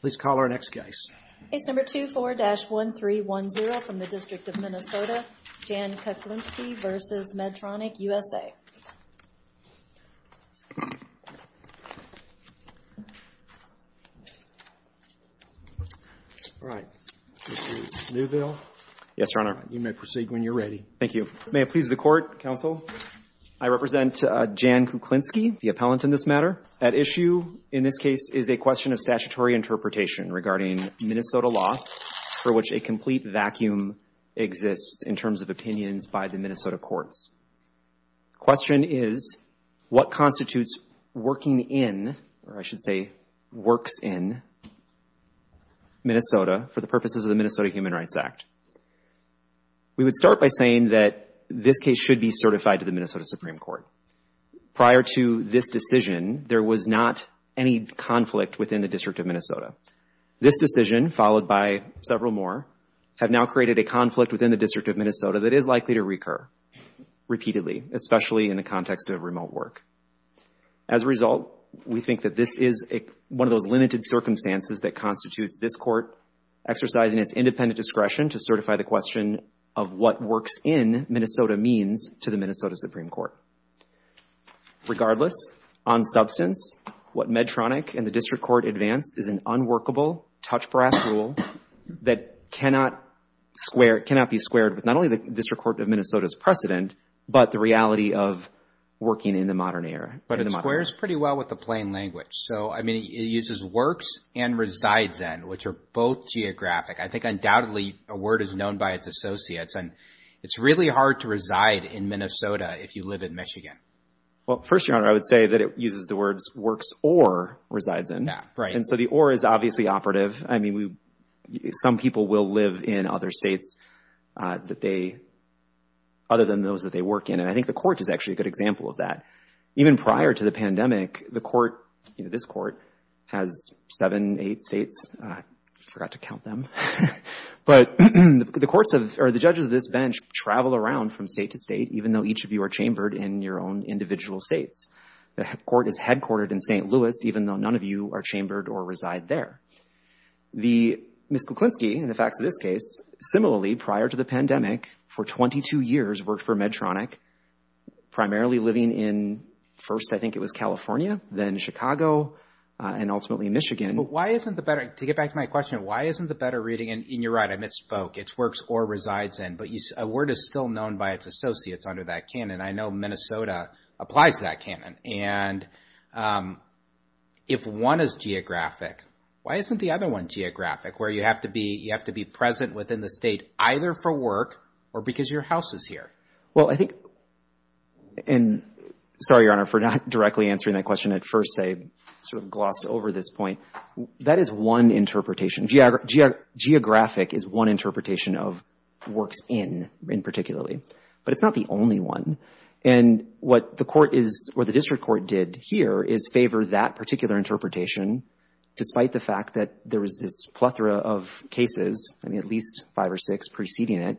Please call our next case. Case No. 24-1310 from the District of Minnesota, Jan Kuklenski v. Medtronic USA. All right. Mr. Neuville. Yes, Your Honor. You may proceed when you're ready. Thank you. May it please the Court, Counsel. I represent Jan Kuklenski, the appellant in this matter. That issue in this case is a question of statutory interpretation regarding Minnesota law for which a complete vacuum exists in terms of opinions by the Minnesota courts. The question is, what constitutes working in, or I should say works in, Minnesota for the purposes of the Minnesota Human Rights Act? We would start by saying that this case should be certified to the Minnesota Supreme Court. Prior to this decision, there was not any conflict within the District of Minnesota. This decision, followed by several more, have now created a conflict within the District of Minnesota that is likely to recur repeatedly, especially in the context of remote work. As a result, we think that this is one of those limited circumstances that constitutes this Court exercising its independent discretion to certify the question of what works in Minnesota means to the Minnesota Supreme Court. Regardless, on substance, what Medtronic and the District Court advance is an unworkable, touch-brass rule that cannot be squared with not only the District Court of Minnesota's precedent, but the reality of working in the modern era. It squares pretty well with the plain language. It uses works and resides in, which are both geographic. I think undoubtedly a word is known by its associates. It's really hard to reside in Minnesota if you live in Michigan. First, Your Honor, I would say that it uses the words works or resides in. The or is obviously operative. Some people will live in other states other than those that they work in. I think the Court is actually a good example of that. Even prior to the pandemic, this Court has seven, eight states. I forgot to count them. But the judges of this bench travel around from state to state, even though each of you are chambered in your own individual states. The Court is headquartered in St. Louis, even though none of you are chambered or reside there. Ms. Kuklinski, in the facts of this case, similarly, prior to the pandemic, for 22 years, worked for Medtronic, primarily living in, first, I think it was California, then Chicago, and ultimately Michigan. But why isn't the better, to get back to my question, why isn't the better reading, and you're right, I misspoke, it's works or resides in. But a word is still known by its associates under that canon. I know Minnesota applies that canon. And if one is geographic, why isn't the other one geographic, where you have to be present within the state either for work or because your house is here? Well, I think, and sorry, Your Honor, for not directly answering that question at first. I sort of glossed over this point. That is one interpretation. Geographic is one interpretation of works in, in particularly. But it's not the only one. And what the court is, or the district court did here, is favor that particular interpretation, despite the fact that there was this plethora of cases, I mean, at least five or six preceding it,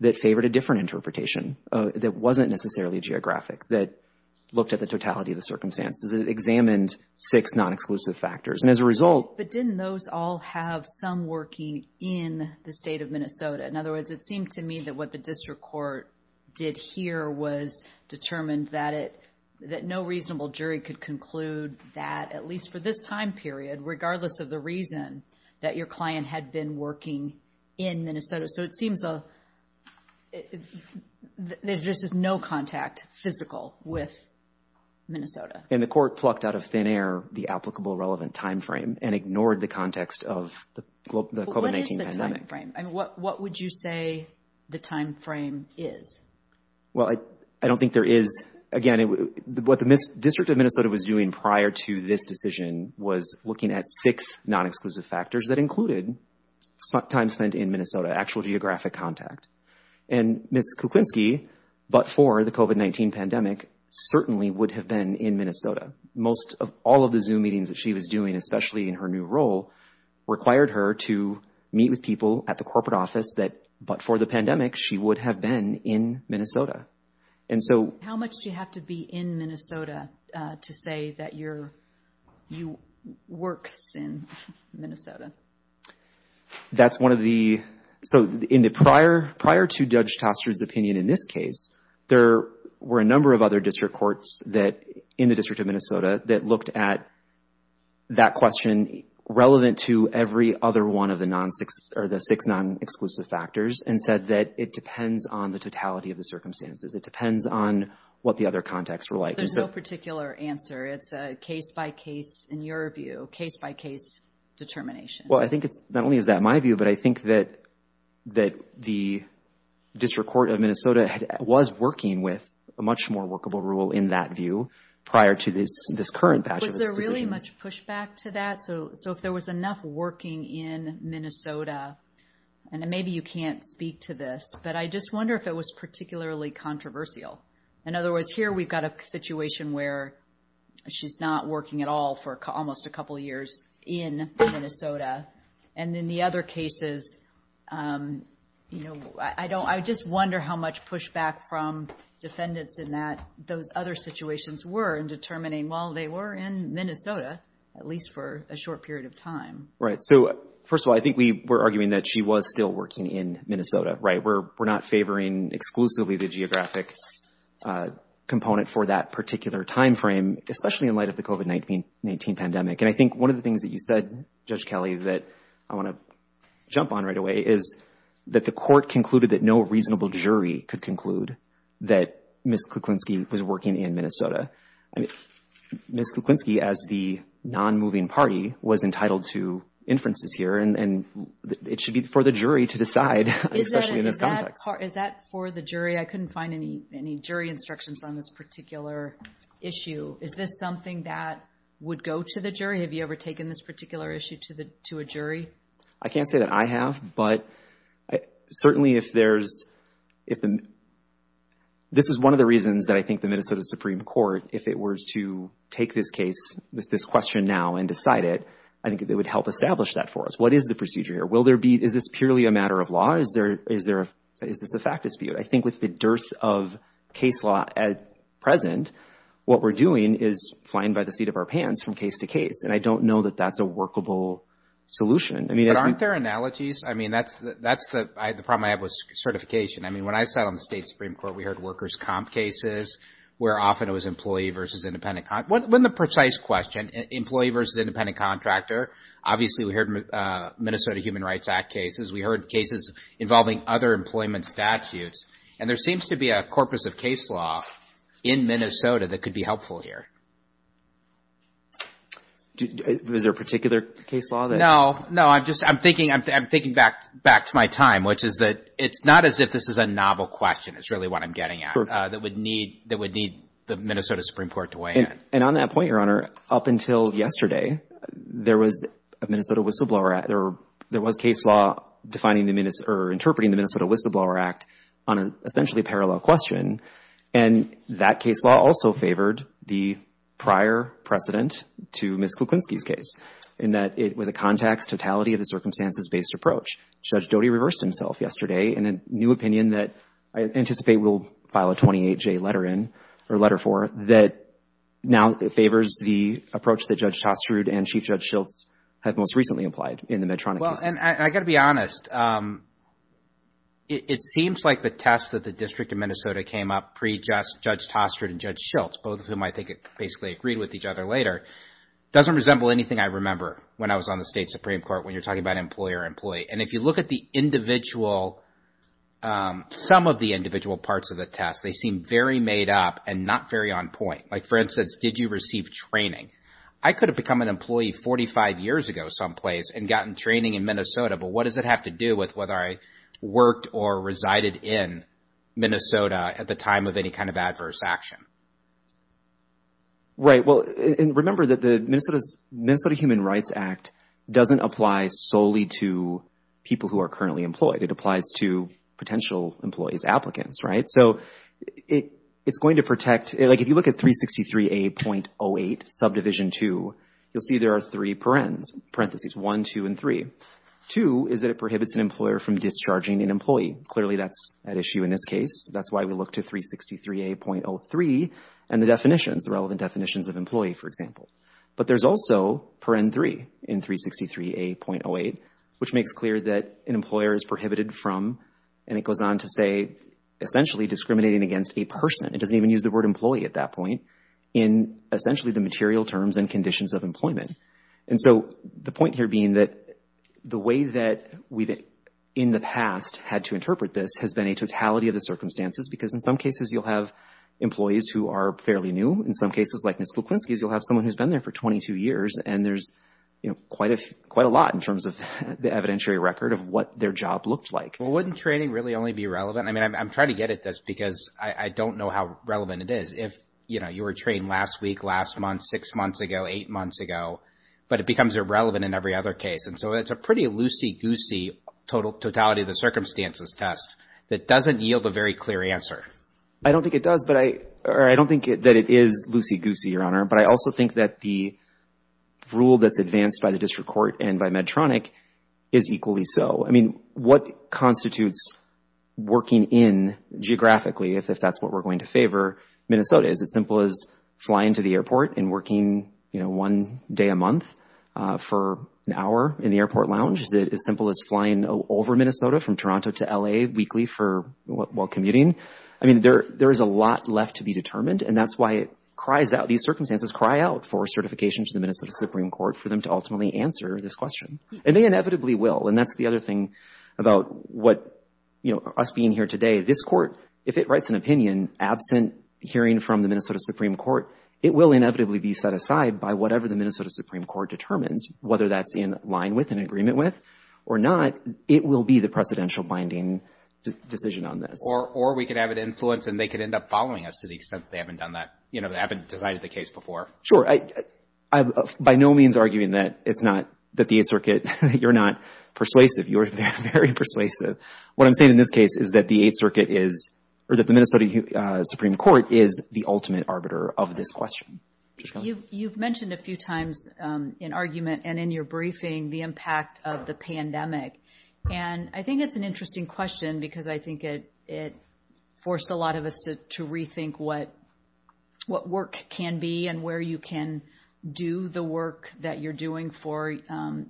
that favored a different interpretation. That wasn't necessarily geographic, that looked at the totality of the circumstances, that examined six non-exclusive factors. And as a result. But didn't those all have some working in the state of Minnesota? In other words, it seemed to me that what the district court did here was determined that it, that no reasonable jury could conclude that, at least for this time period, regardless of the reason that your client had been working in Minnesota. So it seems there's just no contact physical with Minnesota. And the court plucked out of thin air the applicable relevant time frame and ignored the context of the COVID-19 pandemic. I mean, what would you say the time frame is? Well, I don't think there is. Again, what the district of Minnesota was doing prior to this decision was looking at six non-exclusive factors that included time spent in Minnesota, actual geographic contact. And Ms. Kuklinski, but for the COVID-19 pandemic, certainly would have been in Minnesota. Most of, all of the Zoom meetings that she was doing, especially in her new role, required her to meet with people at the corporate office that, but for the pandemic, she would have been in Minnesota. And so. How much do you have to be in Minnesota to say that you're, you work in Minnesota? That's one of the, so in the prior, prior to Judge Toster's opinion in this case, there were a number of other district courts that, in the district of Minnesota, that looked at that question relevant to every other one of the non-six, or the six non-exclusive factors and said that it depends on the totality of the circumstances. It depends on what the other contexts were like. There's no particular answer. It's a case-by-case, in your view, case-by-case determination. Well, I think it's, not only is that my view, but I think that, that the district court of Minnesota was working with a much more workable rule in that view prior to this, this current patch of this decision. Was there really much pushback to that? So, so if there was enough working in Minnesota, and maybe you can't speak to this, but I just wonder if it was particularly controversial. In other words, here we've got a situation where she's not working at all for almost a couple years in Minnesota. And in the other cases, you know, I don't, I just wonder how much pushback from defendants in that, those other situations were in determining, well, they were in Minnesota, at least for a short period of time. Right. So, first of all, I think we were arguing that she was still working in Minnesota, right? We're not favoring exclusively the geographic component for that particular timeframe, especially in light of the COVID-19 pandemic. And I think one of the things that you said, Judge Kelly, that I want to jump on right away is that the court concluded that no reasonable jury could conclude that Ms. Kuklinski was working in Minnesota. Ms. Kuklinski, as the non-moving party, was entitled to inferences here, and it should be for the jury to decide. Especially in this context. Is that for the jury? I couldn't find any jury instructions on this particular issue. Is this something that would go to the jury? Have you ever taken this particular issue to a jury? I can't say that I have, but certainly if there's, if the, this is one of the reasons that I think the Minnesota Supreme Court, if it were to take this case, this question now and decide it, I think it would help establish that for us. What is the procedure here? Will there be, is this purely a matter of law? Is there, is there, is this a fact dispute? I think with the dearth of case law at present, what we're doing is flying by the seat of our pants from case to case. And I don't know that that's a workable solution. But aren't there analogies? I mean, that's the problem I have with certification. I mean, when I sat on the state Supreme Court, we heard workers' comp cases, where often it was employee versus independent. When the precise question, employee versus independent contractor, obviously we heard Minnesota Human Rights Act cases. We heard cases involving other employment statutes. And there seems to be a corpus of case law in Minnesota that could be helpful here. Is there a particular case law there? No, no. I'm just, I'm thinking, I'm thinking back to my time, which is that it's not as if this is a novel question. It's really what I'm getting at, that would need, that would need the Minnesota Supreme Court to weigh in. And on that point, Your Honor, up until yesterday, there was a Minnesota Whistleblower Act, or there was case law defining the, or interpreting the Minnesota Whistleblower Act on an essentially parallel question. And that case law also favored the prior precedent to Ms. Kuklinski's case, in that it was a context totality of the circumstances-based approach. Judge Doty reversed himself yesterday in a new opinion that I anticipate we'll file a 28-J letter in, or letter for, that now favors the approach that Judge Tostrud and Chief Judge Schultz have most recently applied in the Medtronic cases. Well, and I got to be honest. It seems like the test that the District of Minnesota came up pre-Judge Tostrud and Judge Schultz, both of whom I think basically agreed with each other later, doesn't resemble anything I remember when I was on the State Supreme Court, when you're talking about employer-employee. And if you look at the individual, some of the individual parts of the test, they seem very made up and not very on point. Like, for instance, did you receive training? I could have become an employee 45 years ago someplace and gotten training in Minnesota, but what does it have to do with whether I worked or resided in Minnesota at the time of any kind of adverse action? Right. Well, and remember that the Minnesota Human Rights Act doesn't apply solely to people who are currently employed. It applies to potential employees, applicants, right? So it's going to protect, like if you look at 363A.08, subdivision 2, you'll see there are three parentheses, 1, 2, and 3. 2 is that it prohibits an employer from discharging an employee. Clearly, that's at issue in this case. That's why we look to 363A.03 and the definitions, the relevant definitions of employee, for example. But there's also paren 3 in 363A.08, which makes clear that an employer is prohibited from, and it goes on to say, essentially discriminating against a person. It doesn't even use the word employee at that point, in essentially the material terms and conditions of employment. And so the point here being that the way that we've, in the past, had to interpret this has been a totality of the circumstances, because in some cases you'll have employees who are fairly new. In some cases, like Ms. Kuklinski's, you'll have someone who's been there for 22 years, and there's quite a lot in terms of the evidentiary record of what their job looked like. Well, wouldn't training really only be relevant? I mean, I'm trying to get at this because I don't know how relevant it is. If, you know, you were trained last week, last month, six months ago, eight months ago, but it becomes irrelevant in every other case. And so it's a pretty loosey-goosey totality of the circumstances test that doesn't yield a very clear answer. I don't think it does, or I don't think that it is loosey-goosey, Your Honor, but I also think that the rule that's advanced by the district court and by Medtronic is equally so. I mean, what constitutes working in, geographically, if that's what we're going to favor, Minnesota? Is it as simple as flying to the airport and working, you know, one day a month for an hour in the airport lounge? Is it as simple as flying over Minnesota from Toronto to L.A. weekly while commuting? I mean, there is a lot left to be determined, and that's why it cries out, these circumstances cry out for certification to the Minnesota Supreme Court for them to ultimately answer this question. And they inevitably will, and that's the other thing about what, you know, us being here today. This court, if it writes an opinion absent hearing from the Minnesota Supreme Court, it will inevitably be set aside by whatever the Minnesota Supreme Court determines, whether that's in line with, in agreement with, or not, it will be the precedential binding decision on this. Or we could have it influence, and they could end up following us to the extent that they haven't done that, you know, they haven't decided the case before. Sure. I'm by no means arguing that it's not, that the Eighth Circuit, you're not persuasive. You are very persuasive. What I'm saying in this case is that the Eighth Circuit is, or that the Minnesota Supreme Court is the ultimate arbiter of this question. You've mentioned a few times in argument and in your briefing the impact of the pandemic, and I think it's an interesting question because I think it forced a lot of us to rethink what work can be and where you can do the work that you're doing for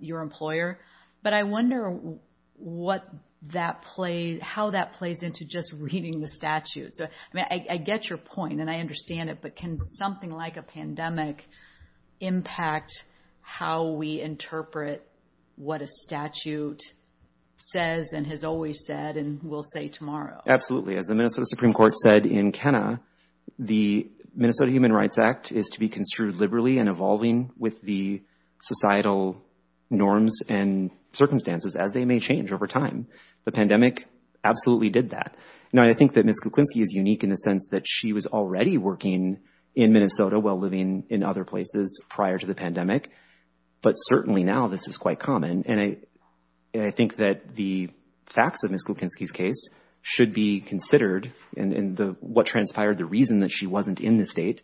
your employer. But I wonder what that plays, how that plays into just reading the statute. So, I mean, I get your point, and I understand it, but can something like a pandemic impact how we interpret what a statute says and has always said and will say tomorrow? Absolutely. As the Minnesota Supreme Court said in Kenna, the Minnesota Human Rights Act is to be construed liberally and evolving with the societal norms and circumstances as they may change over time. The pandemic absolutely did that. Now, I think that Ms. Kuklinski is unique in the sense that she was already working in Minnesota while living in other places prior to the pandemic, but certainly now this is quite common. And I think that the facts of Ms. Kuklinski's case should be considered, and what transpired, the reason that she wasn't in the state,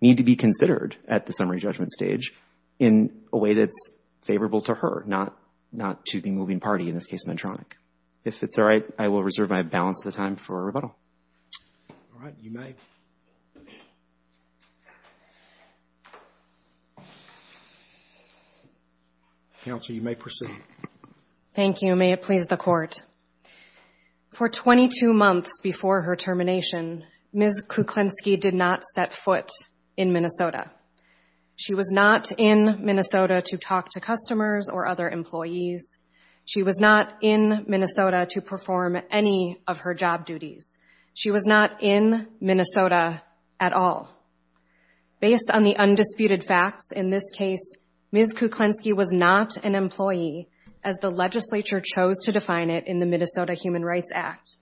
need to be considered at the summary judgment stage in a way that's favorable to her, not to the moving party, in this case Medtronic. If it's all right, I will reserve my balance of the time for rebuttal. All right, you may. Counsel, you may proceed. Thank you. May it please the court. For 22 months before her termination, Ms. Kuklinski did not set foot in Minnesota. She was not in Minnesota to talk to customers or other employees. She was not in Minnesota to perform any of her job duties. She was not in Minnesota at all. Based on the undisputed facts in this case, Ms. Kuklinski was not an employee, as the legislature chose to define it in the Minnesota Human Rights Act.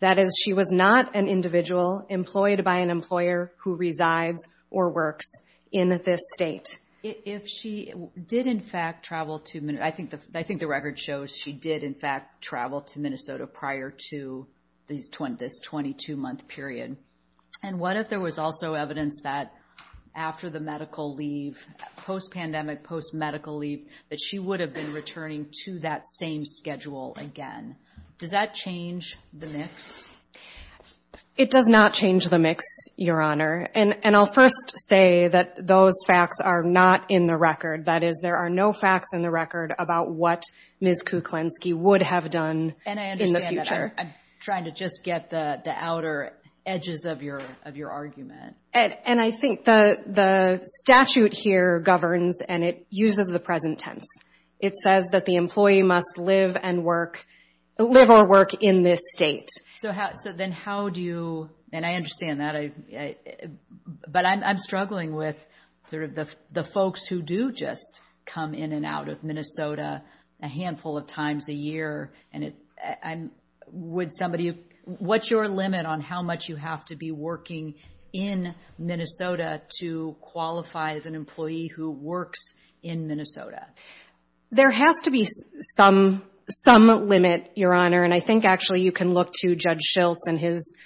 That is, she was not an individual employed by an employer who resides or works in this state. I think the record shows she did, in fact, travel to Minnesota prior to this 22-month period. And what if there was also evidence that after the medical leave, post-pandemic, post-medical leave, that she would have been returning to that same schedule again? Does that change the mix? It does not change the mix, Your Honor. And I'll first say that those facts are not in the record. That is, there are no facts in the record about what Ms. Kuklinski would have done in the future. And I understand that. I'm trying to just get the outer edges of your argument. And I think the statute here governs, and it uses the present tense. It says that the employee must live or work in this state. So then how do you—and I understand that. But I'm struggling with sort of the folks who do just come in and out of Minnesota a handful of times a year. Would somebody—what's your limit on how much you have to be working in Minnesota to qualify as an employee who works in Minnesota? There has to be some limit, Your Honor. And I think, actually, you can look to Judge Schiltz and his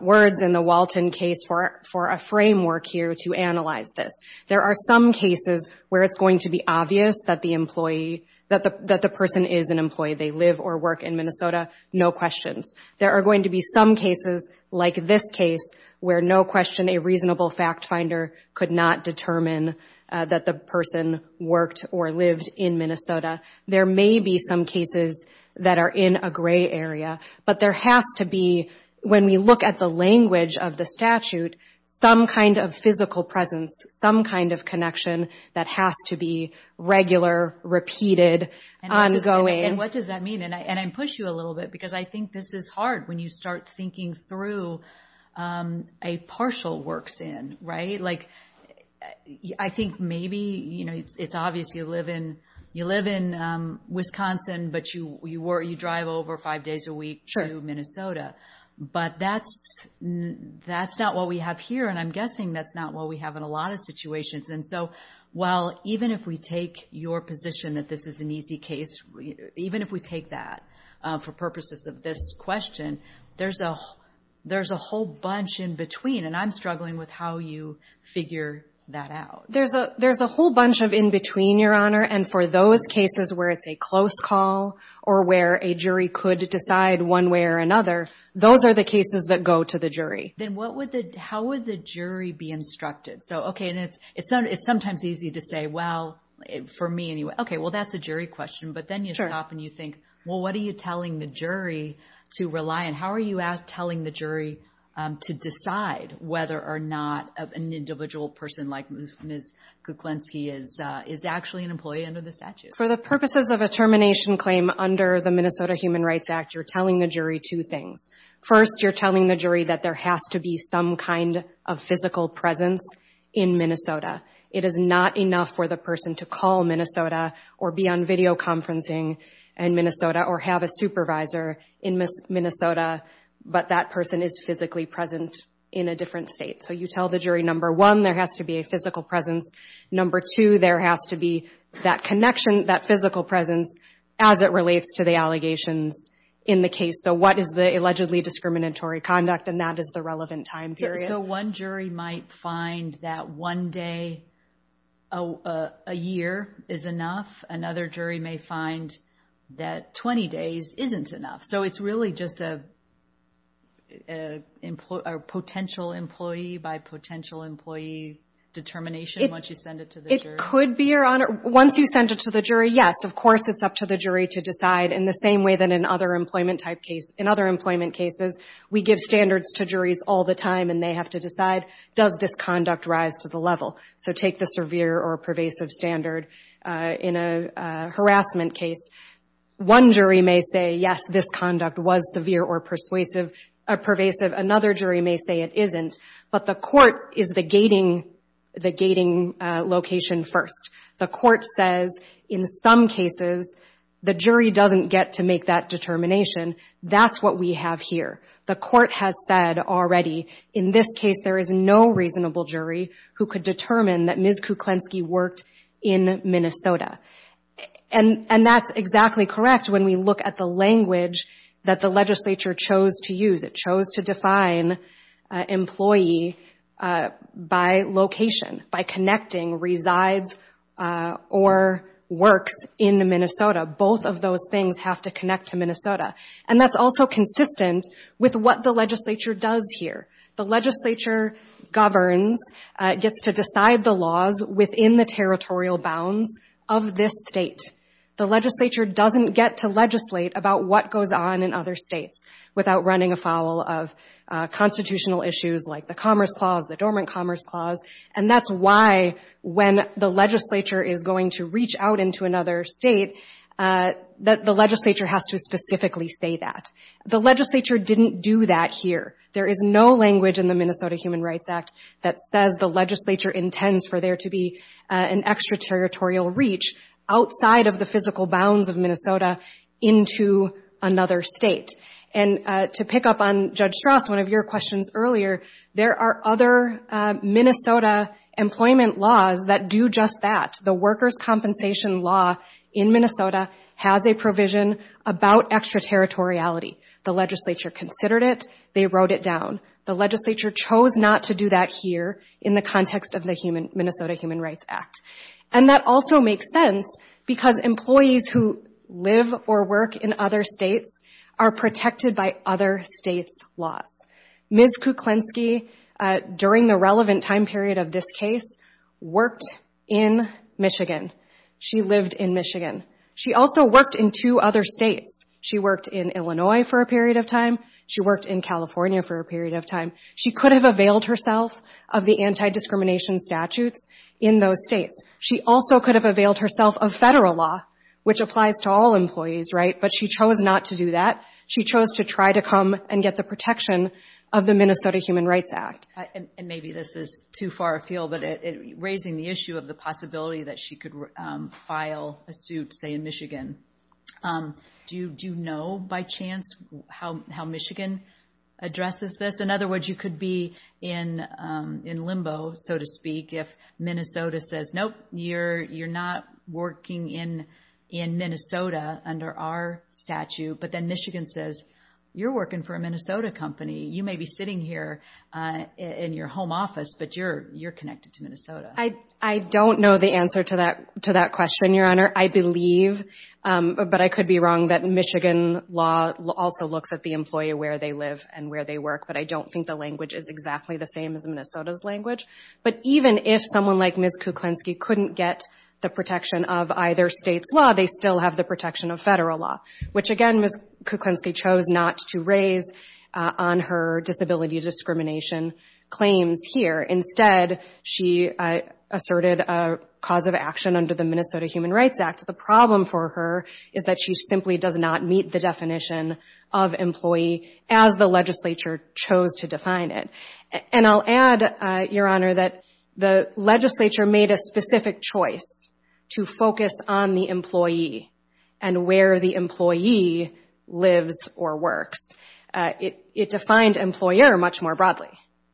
words in the Walton case for a framework here to analyze this. There are some cases where it's going to be obvious that the person is an employee. They live or work in Minnesota, no questions. There are going to be some cases, like this case, where no question a reasonable fact finder could not determine that the person worked or lived in Minnesota. There may be some cases that are in a gray area. But there has to be, when we look at the language of the statute, some kind of physical presence, some kind of connection that has to be regular, repeated, ongoing. And what does that mean? And I push you a little bit because I think this is hard when you start thinking through a partial works in, right? I think maybe it's obvious you live in Wisconsin, but you drive over five days a week to Minnesota. But that's not what we have here, and I'm guessing that's not what we have in a lot of situations. And so, well, even if we take your position that this is an easy case, even if we take that for purposes of this question, there's a whole bunch in between. And I'm struggling with how you figure that out. There's a whole bunch of in between, Your Honor. And for those cases where it's a close call or where a jury could decide one way or another, those are the cases that go to the jury. Then how would the jury be instructed? So, okay, it's sometimes easy to say, well, for me anyway. Okay, well, that's a jury question. But then you stop and you think, well, what are you telling the jury to rely on? How are you telling the jury to decide whether or not an individual person like Ms. Kuklinski is actually an employee under the statute? For the purposes of a termination claim under the Minnesota Human Rights Act, you're telling the jury two things. First, you're telling the jury that there has to be some kind of physical presence in Minnesota. It is not enough for the person to call Minnesota or be on videoconferencing in Minnesota or have a supervisor in Minnesota, but that person is physically present in a different state. So you tell the jury, number one, there has to be a physical presence. Number two, there has to be that connection, that physical presence, as it relates to the allegations in the case. So what is the allegedly discriminatory conduct? And that is the relevant time period. So one jury might find that one day a year is enough. Another jury may find that 20 days isn't enough. So it's really just a potential employee by potential employee determination once you send it to the jury? It could be, Your Honor. Once you send it to the jury, yes, of course it's up to the jury to decide, in the same way that in other employment cases we give standards to juries all the time and they have to decide, does this conduct rise to the level? So take the severe or pervasive standard in a harassment case. One jury may say, yes, this conduct was severe or pervasive. Another jury may say it isn't. But the court is the gating location first. The court says, in some cases, the jury doesn't get to make that determination. That's what we have here. The court has said already, in this case, there is no reasonable jury who could determine that Ms. Kuklenski worked in Minnesota. And that's exactly correct when we look at the language that the legislature chose to use. It chose to define employee by location, by connecting resides or works in Minnesota. Both of those things have to connect to Minnesota. And that's also consistent with what the legislature does here. The legislature governs, gets to decide the laws within the territorial bounds of this state. The legislature doesn't get to legislate about what goes on in other states without running afoul of constitutional issues like the Commerce Clause, the Dormant Commerce Clause. And that's why, when the legislature is going to reach out into another state, the legislature has to specifically say that. The legislature didn't do that here. There is no language in the Minnesota Human Rights Act that says the legislature intends for there to be an extraterritorial reach outside of the physical bounds of Minnesota into another state. And to pick up on Judge Strauss, one of your questions earlier, there are other Minnesota employment laws that do just that. The workers' compensation law in Minnesota has a provision about extraterritoriality. The legislature considered it. They wrote it down. The legislature chose not to do that here in the context of the Minnesota Human Rights Act. And that also makes sense because employees who live or work in other states are protected by other states' laws. Ms. Kuklinski, during the relevant time period of this case, worked in Michigan. She lived in Michigan. She also worked in two other states. She worked in Illinois for a period of time. She worked in California for a period of time. She could have availed herself of the anti-discrimination statutes in those states. She also could have availed herself of federal law, which applies to all employees, right? But she chose not to do that. She chose to try to come and get the protection of the Minnesota Human Rights Act. And maybe this is too far afield, but raising the issue of the possibility that she could file a suit, say, in Michigan, do you know by chance how Michigan addresses this? In other words, you could be in limbo, so to speak, if Minnesota says, nope, you're not working in Minnesota under our statute, but then Michigan says, you're working for a Minnesota company. You may be sitting here in your home office, but you're connected to Minnesota. I don't know the answer to that question, Your Honor. I believe, but I could be wrong, that Michigan law also looks at the employee where they live and where they work, but I don't think the language is exactly the same as Minnesota's language. But even if someone like Ms. Kuklinski couldn't get the protection of either state's law, they still have the protection of federal law, which, again, Ms. Kuklinski chose not to raise on her disability discrimination claims here. Instead, she asserted a cause of action under the Minnesota Human Rights Act. The problem for her is that she simply does not meet the definition of employee as the legislature chose to define it. And I'll add, Your Honor, that the legislature made a specific choice to focus on the employee and where the employee lives or works. It defined employer much more broadly.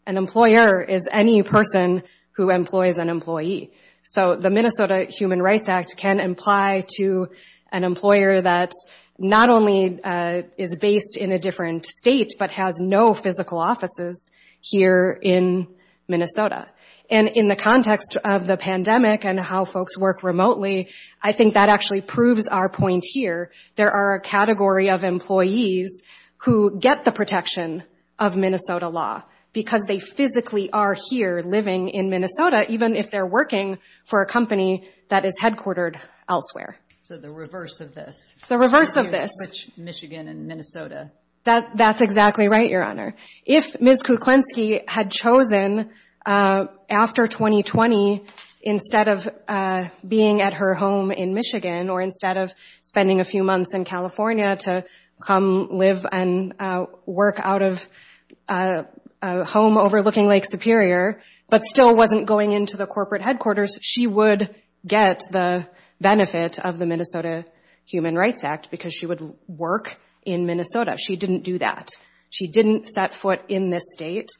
An employer is any person who employs an employee. So the Minnesota Human Rights Act can imply to an employer that not only is based in a different state, but has no physical offices here in Minnesota. And in the context of the pandemic and how folks work remotely, I think that actually proves our point here. There are a category of employees who get the protection of Minnesota law because they physically are here living in Minnesota, even if they're working for a company that is headquartered elsewhere. So the reverse of this. The reverse of this. You switch Michigan and Minnesota. That's exactly right, Your Honor. If Ms. Kuklinski had chosen, after 2020, instead of being at her home in Michigan or instead of spending a few months in California to come live and work out of a home overlooking Lake Superior, but still wasn't going into the corporate headquarters, she would get the benefit of the Minnesota Human Rights Act because she would work in Minnesota. She didn't do that. She didn't set foot in this state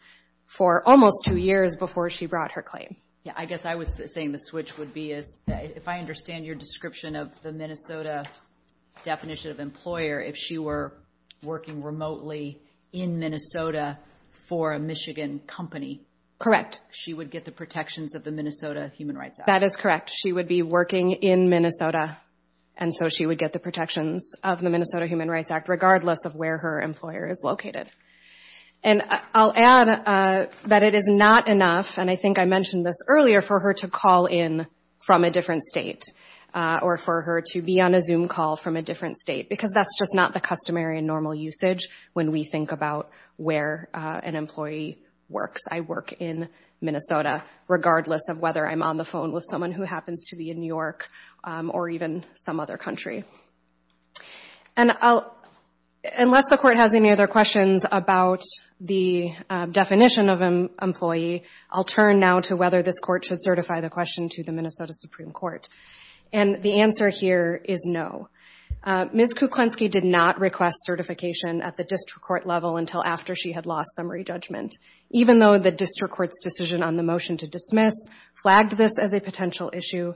for almost two years before she brought her claim. I guess I was saying the switch would be, if I understand your description of the Minnesota definition of employer, if she were working remotely in Minnesota for a Michigan company, she would get the protections of the Minnesota Human Rights Act. That is correct. She would be working in Minnesota, and so she would get the protections of the Minnesota Human Rights Act, regardless of where her employer is located. I'll add that it is not enough, and I think I mentioned this earlier, for her to call in from a different state or for her to be on a Zoom call from a different state because that's just not the customary and normal usage when we think about where an employee works. I work in Minnesota, regardless of whether I'm on the phone with someone who happens to be in New York or even some other country. Unless the Court has any other questions about the definition of employee, I'll turn now to whether this Court should certify the question to the Minnesota Supreme Court. The answer here is no. Ms. Kuklinski did not request certification at the district court level until after she had lost summary judgment, even though the district court's decision on the motion to dismiss flagged this as a potential issue,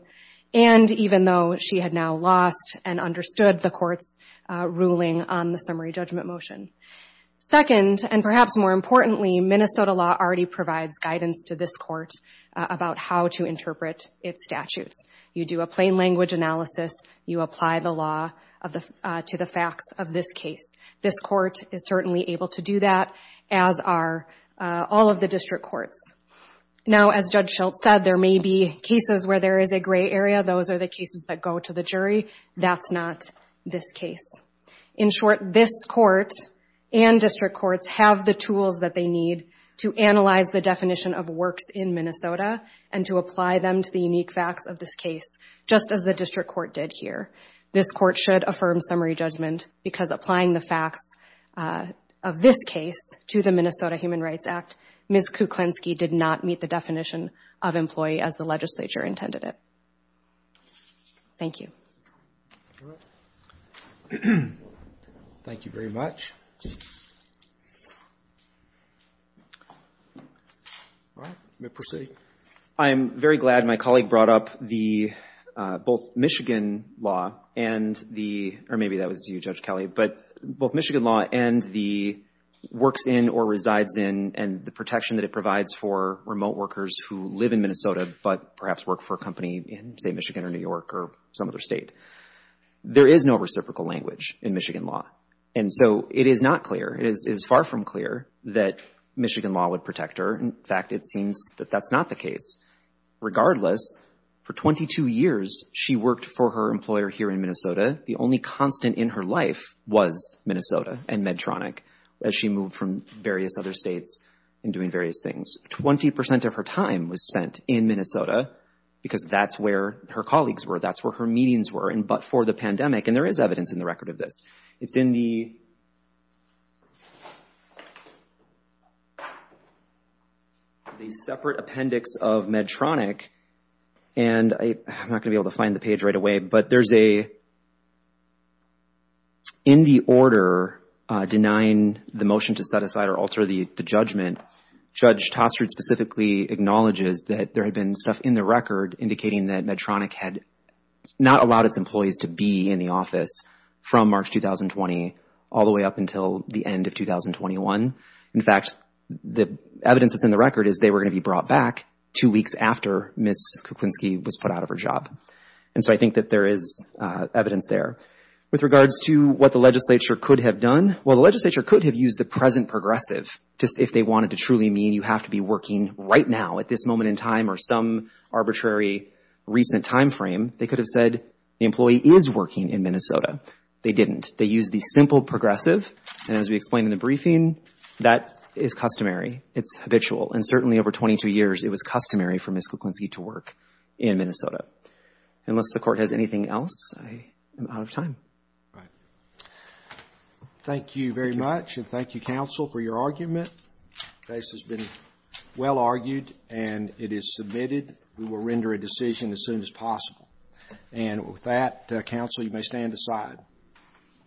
and even though she had now lost and understood the court's ruling on the summary judgment motion. Second, and perhaps more importantly, Minnesota law already provides guidance to this Court about how to interpret its statutes. You do a plain language analysis. You apply the law to the facts of this case. This Court is certainly able to do that, as are all of the district courts. Now, as Judge Schultz said, there may be cases where there is a gray area. Those are the cases that go to the jury. That's not this case. In short, this Court and district courts have the tools that they need to analyze the definition of works in Minnesota and to apply them to the unique facts of this case, just as the district court did here. This Court should affirm summary judgment because applying the facts of this case to the Minnesota Human Rights Act, Ms. Kuklinski did not meet the definition of employee as the legislature intended it. Thank you. All right. Thank you very much. All right. You may proceed. I am very glad my colleague brought up the both Michigan law and the or maybe that was you, Judge Kelly, but both Michigan law and the works in or resides in and the protection that it provides for remote workers who live in Minnesota but perhaps work for a company in, say, Michigan or New York or some other state. There is no reciprocal language in Michigan law. And so it is not clear. It is far from clear that Michigan law would protect her. In fact, it seems that that's not the case. Regardless, for 22 years, she worked for her employer here in Minnesota. The only constant in her life was Minnesota and Medtronic as she moved from various other states and doing various things. Twenty percent of her time was spent in Minnesota because that's where her colleagues were, that's where her meetings were, and but for the pandemic, and there is evidence in the record of this. It's in the separate appendix of Medtronic, and I'm not going to be able to find the page right away, but there's a, in the order denying the motion to set aside or alter the judgment, Judge Tostred specifically acknowledges that there had been stuff in the record indicating that Medtronic had not allowed its employees to be in the office from March 2020 all the way up until the end of 2021. In fact, the evidence that's in the record is they were going to be brought back two weeks after Ms. Kuklinski was put out of her job. And so I think that there is evidence there. With regards to what the legislature could have done, well, the legislature could have used the present progressive if they wanted to truly mean you have to be working right now at this moment in time or some arbitrary recent time frame. They could have said the employee is working in Minnesota. They didn't. They used the simple progressive, and as we explained in the briefing, that is customary, it's habitual, and certainly over 22 years it was customary for Ms. Kuklinski to work in Minnesota. Unless the court has anything else, I am out of time. All right. Thank you very much, and thank you, counsel, for your argument. The case has been well argued, and it is submitted. We will render a decision as soon as possible. And with that, counsel, you may stand aside.